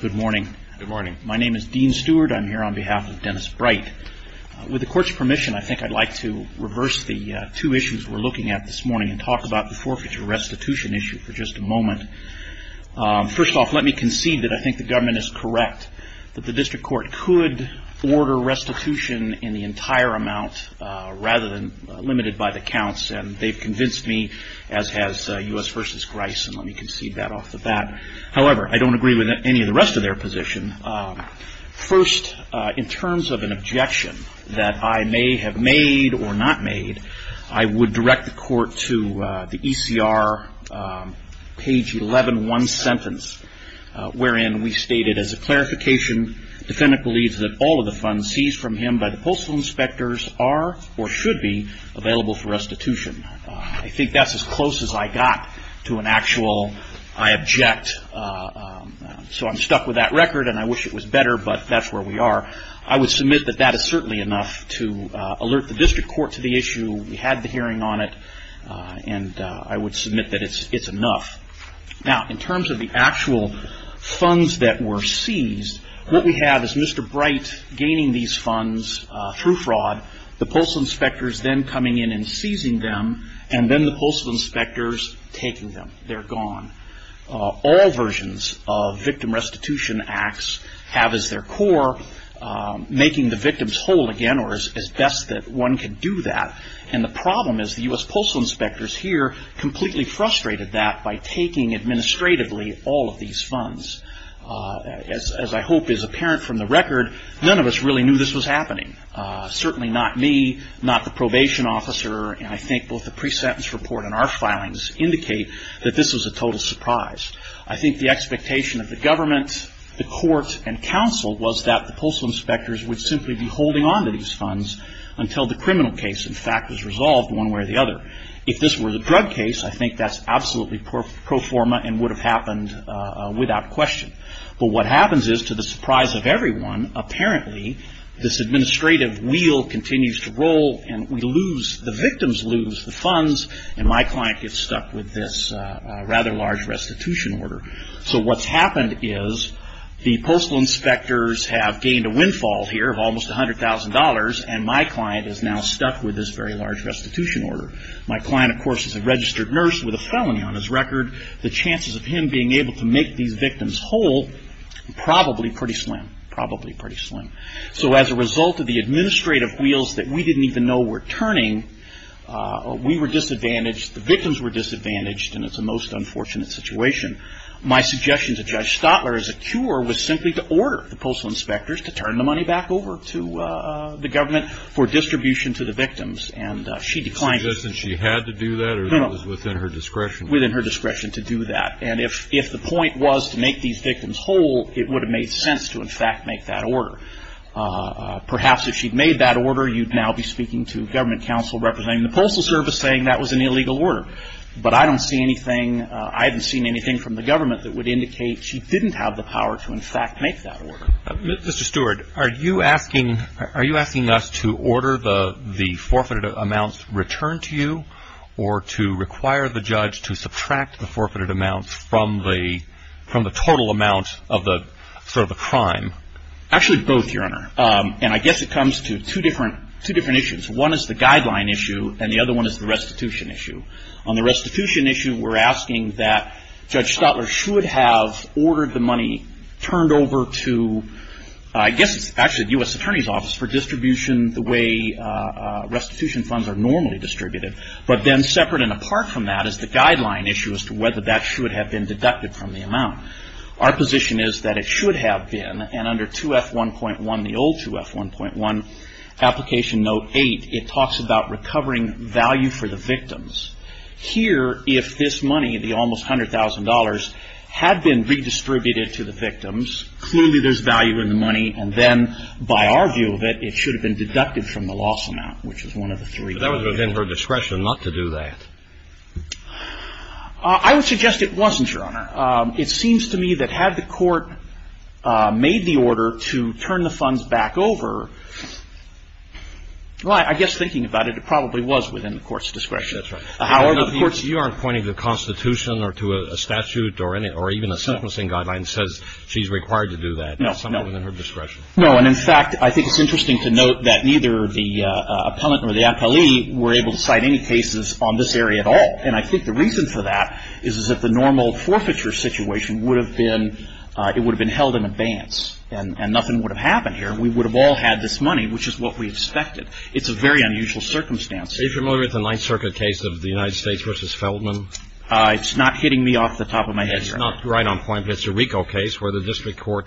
Good morning. My name is Dean Stewart. I'm here on behalf of Dennis Bright. With the court's permission, I think I'd like to reverse the two issues we're looking at this morning and talk about the forfeiture restitution issue for just a moment. First off, let me concede that I think the government is correct that the district court could order restitution in the entire amount rather than limited by the counts, and they've convinced me, as has U.S. v. Grice, and let me concede that off the bat. However, I don't agree with any of the rest of their position. First, in terms of an objection that I may have made or not made, I would direct the court to the ECR, page 11, one sentence, wherein we stated, as a clarification, defendant believes that all of the funds seized from him by the postal inspectors are or should be available for restitution. I think that's as close as I got to an actual, I object, so I'm stuck with that record, and I wish it was better, but that's where we are. I would submit that that is certainly enough to alert the district court to the issue. We had the hearing on it, and I would submit that it's enough. Now, in terms of the actual funds that were seized, what we have is Mr. Bright gaining these funds through fraud, the postal inspectors then coming in and seizing them, and then the postal inspectors taking them. They're gone. All versions of victim restitution acts have as their core making the victims whole again, or as best that one can do that, and the problem is the U.S. postal inspectors here completely frustrated that by taking administratively all of these funds. As I hope is apparent from the record, none of us really knew this was happening. Certainly not me, not the probation officer, and I think both the pre-sentence report and our filings indicate that this was a total surprise. I think the expectation of the government, the court, and counsel was that the postal inspectors would simply be holding onto these funds until the criminal case, in fact, was resolved one way or the other. If this were the drug case, I think that's absolutely pro forma and would have happened without question, but what happens is to the surprise of everyone, apparently this administrative wheel continues to roll and we lose, the victims lose the funds and my client gets stuck with this rather large restitution order. So what's happened is the postal inspectors have gained a windfall here of almost $100,000 and my client is now stuck with this very large restitution order. My client, of course, is a registered nurse with a felony on his record. The chances of him being able to make these victims whole are probably pretty slim, probably pretty slim. So as a result of the administrative wheels that we didn't even know were turning, we were disadvantaged, the victims were disadvantaged, and it's a most unfortunate situation. My suggestion to Judge Stotler as a cure was simply to order the postal inspectors to turn the money back over to the government for distribution to the victims, and she declined. Did she say she had to do that or it was within her discretion? Within her discretion to do that. And if the point was to make these victims whole, it would have made sense to, in fact, make that order. Perhaps if she'd made that order, you'd now be speaking to government counsel representing the Postal Service saying that was an illegal order. But I don't see anything, I haven't seen anything from the government that would indicate she didn't have the power to, in fact, make that order. Mr. Stewart, are you asking us to order the forfeited amounts returned to you or to require the judge to subtract the forfeited amounts from the total amount of the crime? Actually both, Your Honor. And I guess it comes to two different issues. One is the guideline issue and the other one is the restitution issue. On the restitution issue, we're asking that Judge Stotler should have ordered the money turned over to, I guess it's actually the U.S. Attorney's Office, for distribution the way restitution funds are normally distributed. But then separate and apart from that is the guideline issue as to whether that should have been deducted from the amount. Our position is that it should have been, and under 2F1.1, the old 2F1.1, Application Note 8, it talks about recovering value for the victims. Here, if this money, the almost $100,000, had been redistributed to the victims, clearly there's value in the money, and then by our view of it, it should have been deducted from the loss amount, which is one of the three. But that was within her discretion not to do that. I would suggest it wasn't, Your Honor. It seems to me that had the court made the order to turn the funds back over, well, I guess thinking about it, it probably was within the court's discretion. That's right. Of course, Your Honor, you aren't pointing to the Constitution or to a statute or even a sentencing guideline that says she's required to do that. No, no. It's something within her discretion. No, and in fact, I think it's interesting to note that neither the appellant or the appellee were able to cite any cases on this area at all. And I think the reason for that is that the normal forfeiture situation would have been held in advance and nothing would have happened here. We would have all had this money, which is what we expected. It's a very unusual circumstance. Are you familiar with the Ninth Circuit case of the United States v. Feldman? It's not hitting me off the top of my head, Your Honor. It's not right on point, but it's a RICO case where the district court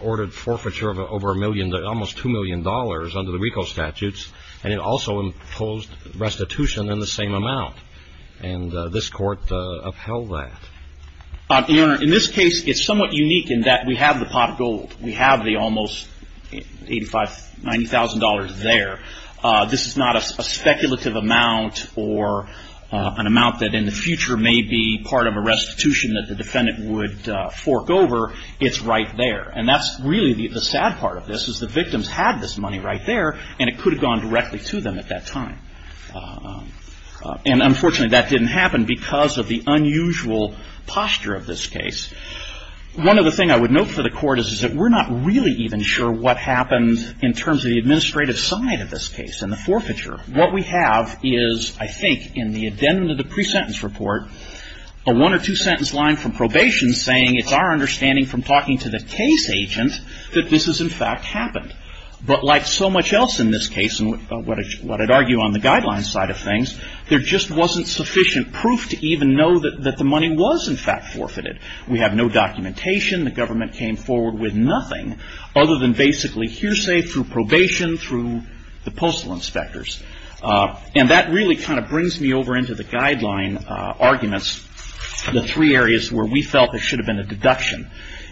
ordered forfeiture of over a million, almost $2 million under the RICO statutes, and it also imposed restitution in the same amount. And this court upheld that. Your Honor, in this case, it's somewhat unique in that we have the pot of gold. We have the almost $80,000, $90,000 there. This is not a speculative amount or an amount that in the future may be part of a restitution that the defendant would fork over. It's right there. And that's really the sad part of this is the victims had this money right there, and it could have gone directly to them at that time. And unfortunately, that didn't happen because of the unusual posture of this case. One other thing I would note for the Court is that we're not really even sure what What we have is, I think, in the addendum to the pre-sentence report, a one or two sentence line from probation saying it's our understanding from talking to the case agent that this has, in fact, happened. But like so much else in this case, and what I'd argue on the guidelines side of things, there just wasn't sufficient proof to even know that the money was, in fact, forfeited. We have no documentation. The government came forward with nothing other than basically hearsay through probation, through the postal inspectors. And that really kind of brings me over into the guideline arguments, the three areas where we felt there should have been a deduction.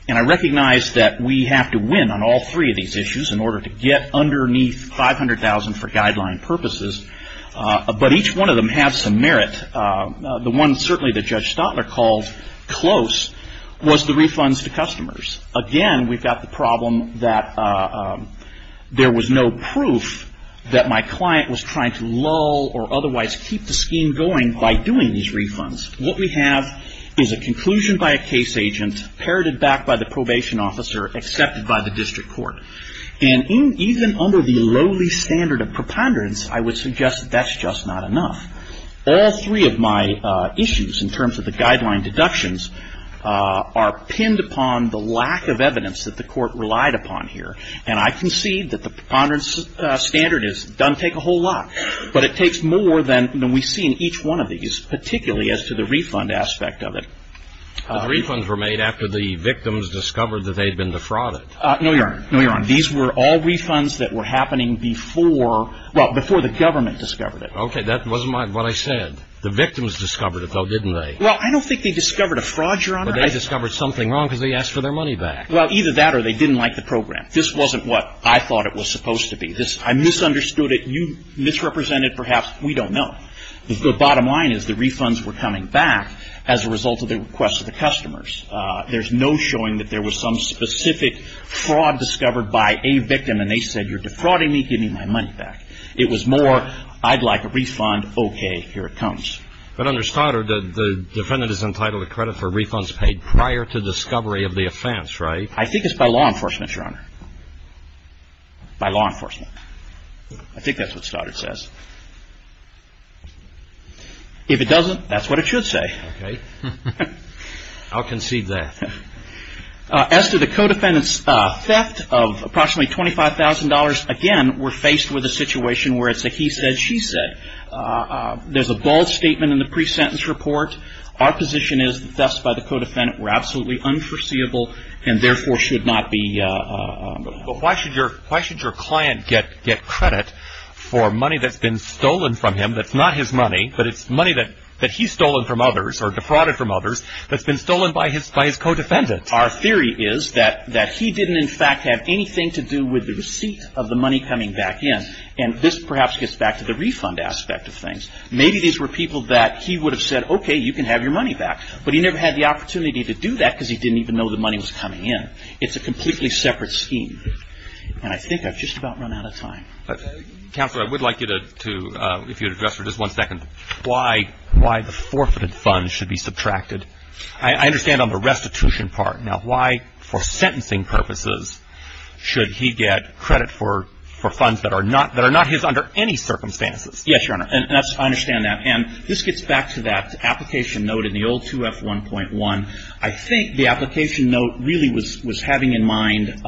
And I recognize that we have to win on all three of these issues in order to get underneath $500,000 for guideline purposes. But each one of them has some merit. The one, certainly, that Judge Stotler called close was the refunds to customers. Again, we've got the problem that there was no proof that my client was trying to lull or otherwise keep the scheme going by doing these refunds. What we have is a conclusion by a case agent, parroted back by the probation officer, accepted by the district court. And even under the lowly standard of preponderance, I would suggest that that's just not enough. All three of my issues, in terms of the guideline deductions, are pinned upon the lack of evidence that the court relied upon here. And I concede that the preponderance standard has done take a whole lot. But it takes more than we see in each one of these, particularly as to the refund aspect of it. The refunds were made after the victims discovered that they had been defrauded. No, Your Honor. No, Your Honor. These were all refunds that were happening before the government discovered it. Okay, that wasn't what I said. The victims discovered it, though, didn't they? Well, I don't think they discovered a fraud, Your Honor. But they discovered something wrong because they asked for their money back. Well, either that or they didn't like the program. This wasn't what I thought it was supposed to be. I misunderstood it. You misrepresented it perhaps. We don't know. The bottom line is the refunds were coming back as a result of the request of the customers. There's no showing that there was some specific fraud discovered by a victim and they said, you're defrauding me, give me my money back. It was more, I'd like a refund, okay, here it comes. But under Stoddard, the defendant is entitled to credit for refunds paid prior to discovery of the offense, right? I think it's by law enforcement, Your Honor. By law enforcement. I think that's what Stoddard says. If it doesn't, that's what it should say. Okay. I'll concede that. As to the co-defendant's theft of approximately $25,000, again, we're faced with a situation where it's a he said, she said. There's a bold statement in the pre-sentence report. Our position is the thefts by the co-defendant were absolutely unforeseeable and therefore should not be. But why should your client get credit for money that's been stolen from him that's not his money, but it's money that he's stolen from others or defrauded from others that's been stolen by his co-defendant? Our theory is that he didn't in fact have anything to do with the receipt of the money coming back in. And this perhaps gets back to the refund aspect of things. Maybe these were people that he would have said, okay, you can have your money back. But he never had the opportunity to do that because he didn't even know the money was coming in. It's a completely separate scheme. And I think I've just about run out of time. Counselor, I would like you to, if you would address for just one second why the forfeited funds should be subtracted. I understand on the restitution part. Now, why for sentencing purposes should he get credit for funds that are not his under any circumstances? Yes, Your Honor. I understand that. And this gets back to that application note in the old 2F1.1. I think the application note really was having in mind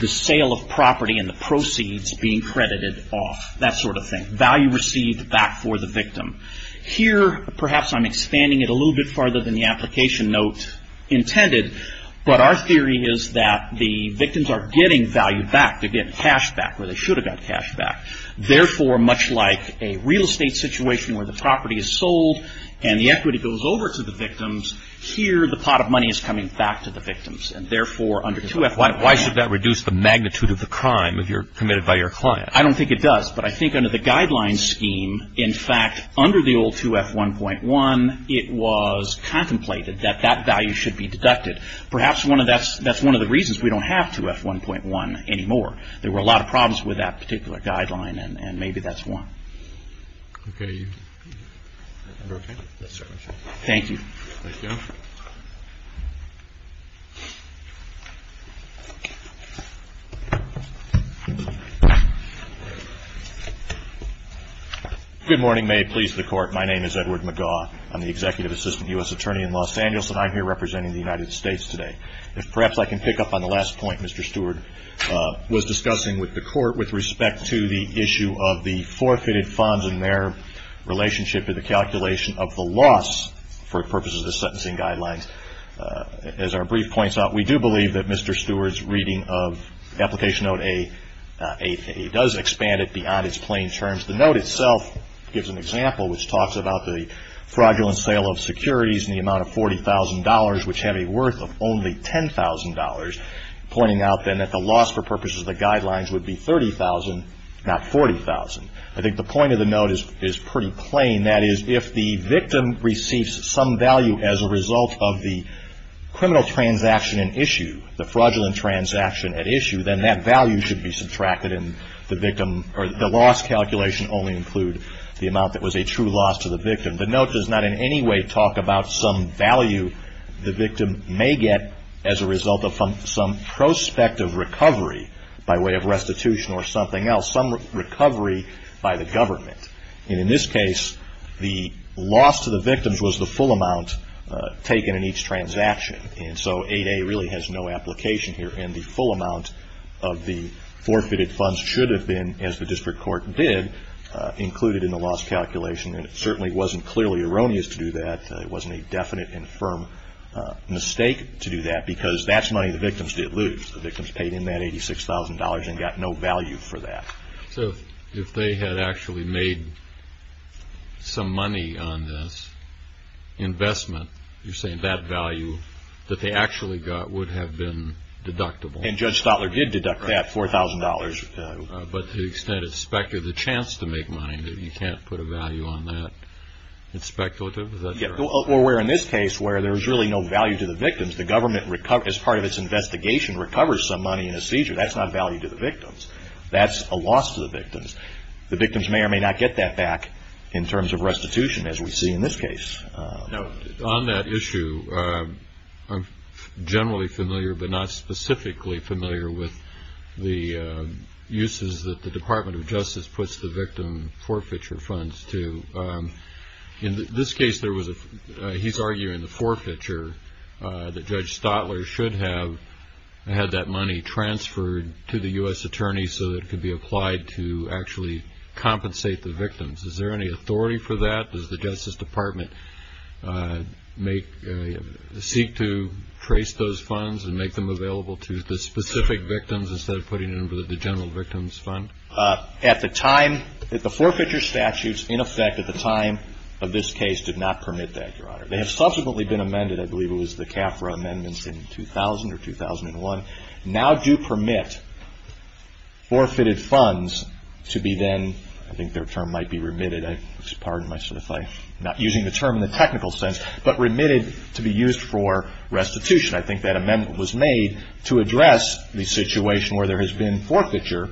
the sale of property and the proceeds being credited off. That sort of thing. Value received back for the victim. Here perhaps I'm expanding it a little bit farther than the application note intended. But our theory is that the victims are getting value back. They're getting cash back where they should have got cash back. Therefore, much like a real estate situation where the property is sold and the equity goes over to the victims, here the pot of money is coming back to the victims. And therefore, under 2F1.1. Why should that reduce the magnitude of the crime if you're committed by your client? I don't think it does. But I think under the guidelines scheme, in fact, under the old 2F1.1, it was contemplated that that value should be deducted. Perhaps that's one of the reasons we don't have 2F1.1 anymore. There were a lot of problems with that particular guideline, and maybe that's one. Okay. Are you okay? Yes, sir. Thank you. Thank you. Good morning. May it please the Court. My name is Edward McGaugh. I'm the Executive Assistant U.S. Attorney in Los Angeles, and I'm here representing the United States today. If perhaps I can pick up on the last point Mr. Stewart was discussing with the Court with respect to the issue of the forfeited funds and their relationship to the calculation of the loss for purposes of the sentencing guidelines. As our brief points out, we do believe that Mr. Stewart's reading of Application Note A does expand it beyond its plain terms. The note itself gives an example which talks about the fraudulent sale of securities in the amount of $40,000, which have a worth of only $10,000, pointing out then that the loss for purposes of the guidelines would be $30,000, not $40,000. I think the point of the note is pretty plain. That is, if the victim receives some value as a result of the criminal transaction at issue, the fraudulent transaction at issue, then that value should be subtracted and the victim or the loss calculation only include the amount that was a true loss to the victim. The note does not in any way talk about some value the victim may get as a result of some prospective recovery by way of restitution or something else, some recovery by the government. In this case, the loss to the victims was the full amount taken in each transaction. So 8A really has no application here and the full amount of the forfeited funds should have been, as the district court did, included in the loss calculation. And it certainly wasn't clearly erroneous to do that. It wasn't a definite and firm mistake to do that because that's money the victims did lose. The victims paid in that $86,000 and got no value for that. So if they had actually made some money on this investment, you're saying that value that they actually got would have been deductible. And Judge Stotler did deduct that $4,000. But to the extent it speculated the chance to make money, you can't put a value on that. It's speculative. Or where in this case where there's really no value to the victims, the government as part of its investigation recovers some money in a seizure. That's not value to the victims. That's a loss to the victims. The victims may or may not get that back in terms of restitution as we see in this case. On that issue, I'm generally familiar but not specifically familiar with the uses that the Department of Justice puts the victim forfeiture funds to. In this case, he's arguing the forfeiture that Judge Stotler should have had that money transferred to the U.S. Attorney so that it could be applied to actually compensate the victims. Is there any authority for that? Does the Justice Department seek to trace those funds and make them available to the specific victims instead of putting them in the general victims fund? At the time, the forfeiture statutes in effect at the time of this case did not permit that, Your Honor. They have subsequently been amended. I believe it was the CAFRA amendments in 2000 or 2001. Now do permit forfeited funds to be then, I think their term might be remitted. Pardon myself if I'm not using the term in the technical sense, but remitted to be used for restitution. I think that amendment was made to address the situation where there has been forfeiture,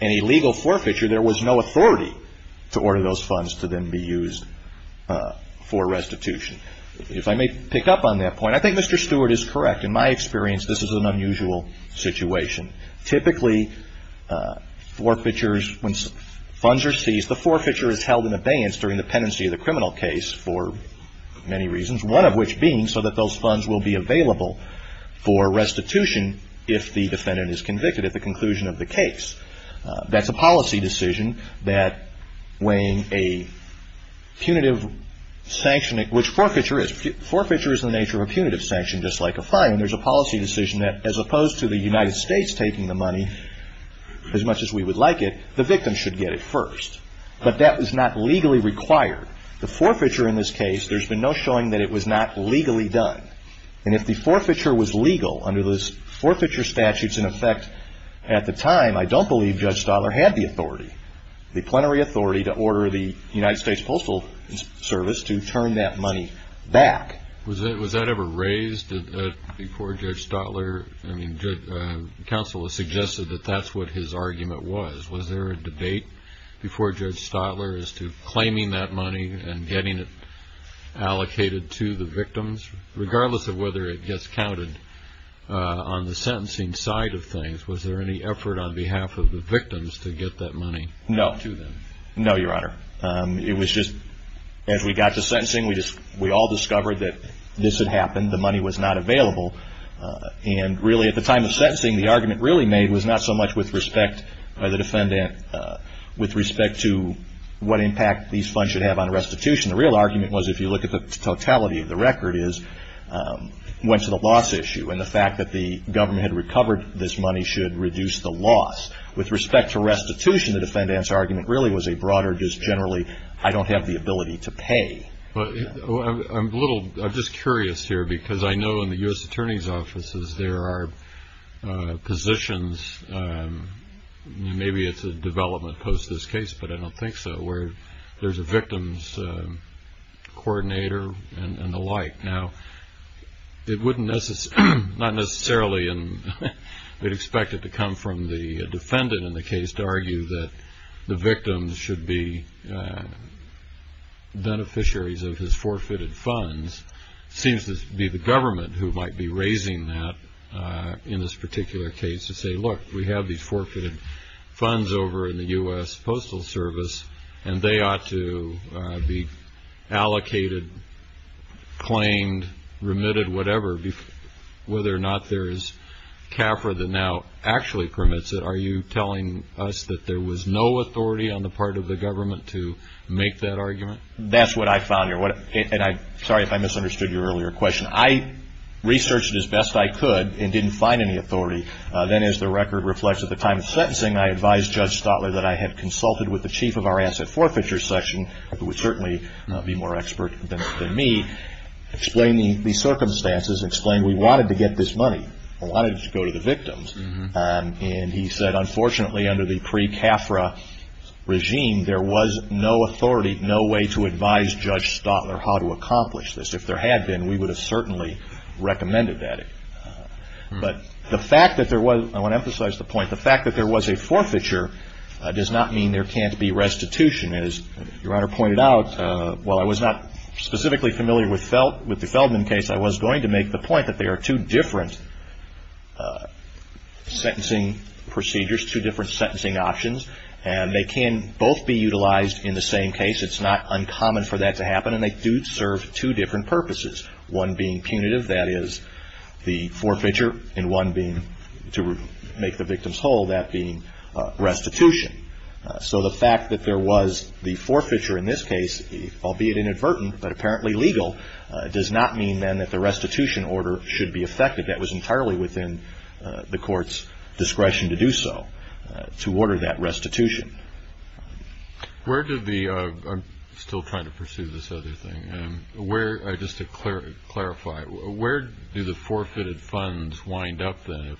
an illegal forfeiture, there was no authority to order those funds to then be used for restitution. If I may pick up on that point, I think Mr. Stewart is correct. In my experience, this is an unusual situation. Typically, forfeitures, when funds are seized, the forfeiture is held in abeyance during the pendency of the criminal case for many reasons, one of which being so that those funds will be available for restitution if the defendant is convicted at the conclusion of the case. That's a policy decision that when a punitive sanction, which forfeiture is. Forfeiture is in the nature of a punitive sanction just like a fine. There's a policy decision that as opposed to the United States taking the money as much as we would like it, the victim should get it first. But that was not legally required. The forfeiture in this case, there's been no showing that it was not legally done. And if the forfeiture was legal under those forfeiture statutes in effect at the time, I don't believe Judge Stahler had the authority, the plenary authority to order the United States Postal Service to turn that money back. Was that ever raised before Judge Stahler? I mean, counsel has suggested that that's what his argument was. Was there a debate before Judge Stahler as to claiming that money and getting it allocated to the victims? Regardless of whether it gets counted on the sentencing side of things, was there any effort on behalf of the victims to get that money to them? No. No, Your Honor. It was just as we got to sentencing, we all discovered that this had happened. The money was not available. And really at the time of sentencing, the argument really made was not so much with respect to what impact these funds should have on restitution. The real argument was if you look at the totality of the record is it went to the loss issue. And the fact that the government had recovered this money should reduce the loss. With respect to restitution, the defendant's argument really was a broader just generally, I don't have the ability to pay. I'm just curious here because I know in the U.S. Attorney's offices there are positions, maybe it's a development post this case, but I don't think so, where there's a victims coordinator and the like. Now, it wouldn't necessarily, not necessarily, and we'd expect it to come from the defendant in the case to argue that the victims should be beneficiaries of his forfeited funds. It seems to be the government who might be raising that in this particular case to say, look, we have these forfeited funds over in the U.S. Postal Service, and they ought to be allocated, claimed, remitted, whatever, whether or not there is CAFRA that now actually permits it. Are you telling us that there was no authority on the part of the government to make that argument? That's what I found here. And I'm sorry if I misunderstood your earlier question. I researched it as best I could and didn't find any authority. Then, as the record reflects at the time of sentencing, I advised Judge Stotler that I had consulted with the chief of our asset forfeiture section, who would certainly be more expert than me, explained the circumstances, explained we wanted to get this money, wanted it to go to the victims. And he said, unfortunately, under the pre-CAFRA regime, there was no authority, no way to advise Judge Stotler how to accomplish this. If there had been, we would have certainly recommended that. But the fact that there was, I want to emphasize the point, the fact that there was a forfeiture does not mean there can't be restitution. As Your Honor pointed out, while I was not specifically familiar with the Feldman case, I was going to make the point that there are two different sentencing procedures, two different sentencing options, and they can both be utilized in the same case. It's not uncommon for that to happen, and they do serve two different purposes, one being punitive, that is the forfeiture, and one being to make the victims whole, that being restitution. So the fact that there was the forfeiture in this case, albeit inadvertent but apparently legal, does not mean then that the restitution order should be effected. That was entirely within the court's discretion to do so, to order that restitution. I'm still trying to pursue this other thing. Just to clarify, where do the forfeited funds wind up then?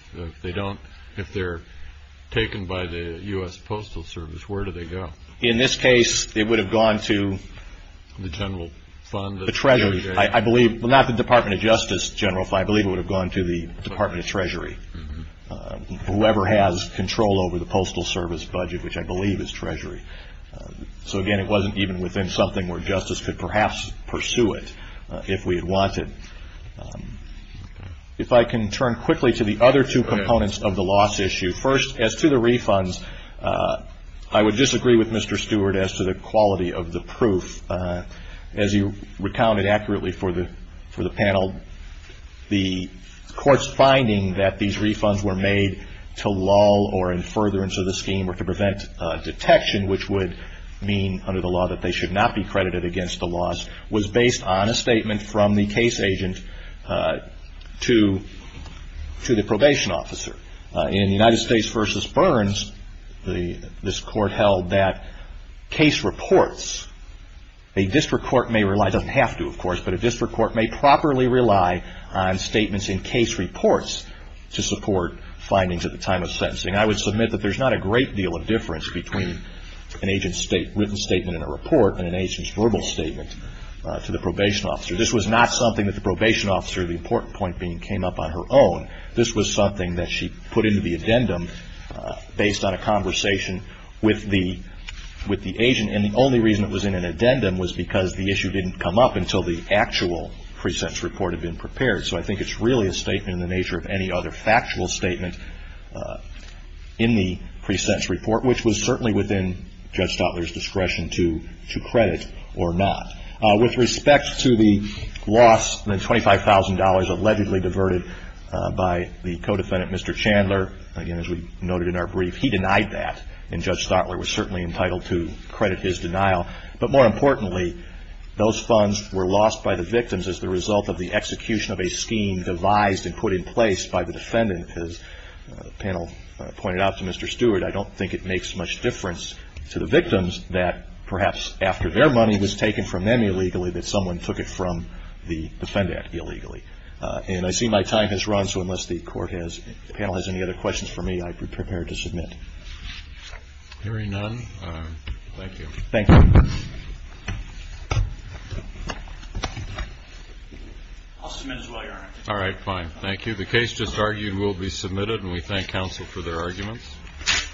If they're taken by the U.S. Postal Service, where do they go? In this case, it would have gone to the Treasury. Well, not the Department of Justice, General, but I believe it would have gone to the Department of Treasury. Whoever has control over the Postal Service budget, which I believe is Treasury. So again, it wasn't even within something where justice could perhaps pursue it if we had wanted. If I can turn quickly to the other two components of the loss issue. First, as to the refunds, I would disagree with Mr. Stewart as to the quality of the proof. As you recounted accurately for the panel, the court's finding that these refunds were made to lull or in furtherance of the scheme or to prevent detection, which would mean under the law that they should not be credited against the loss, was based on a statement from the case agent to the probation officer. In United States v. Burns, this court held that case reports, a district court may rely, doesn't have to of course, but a district court may properly rely on statements in case reports to support findings at the time of sentencing. I would submit that there's not a great deal of difference between an agent's written statement in a report and an agent's verbal statement to the probation officer. This was not something that the probation officer, the important point being, came up on her own. This was something that she put into the addendum based on a conversation with the agent. And the only reason it was in an addendum was because the issue didn't come up until the actual precepts report had been prepared. So I think it's really a statement in the nature of any other factual statement in the precepts report, which was certainly within Judge Stotler's discretion to credit or not. With respect to the loss, the $25,000 allegedly diverted by the co-defendant, Mr. Chandler, again as we noted in our brief, he denied that. And Judge Stotler was certainly entitled to credit his denial. But more importantly, those funds were lost by the victims as the result of the execution of a scheme devised and put in place by the defendant. As the panel pointed out to Mr. Stewart, I don't think it makes much difference to the victims that perhaps after their money was taken from them illegally that someone took it from the defendant illegally. And I see my time has run, so unless the panel has any other questions for me, I'm prepared to submit. Hearing none, thank you. Thank you. I'll submit as well, Your Honor. All right, fine. Thank you. The case just argued will be submitted, and we thank counsel for their arguments.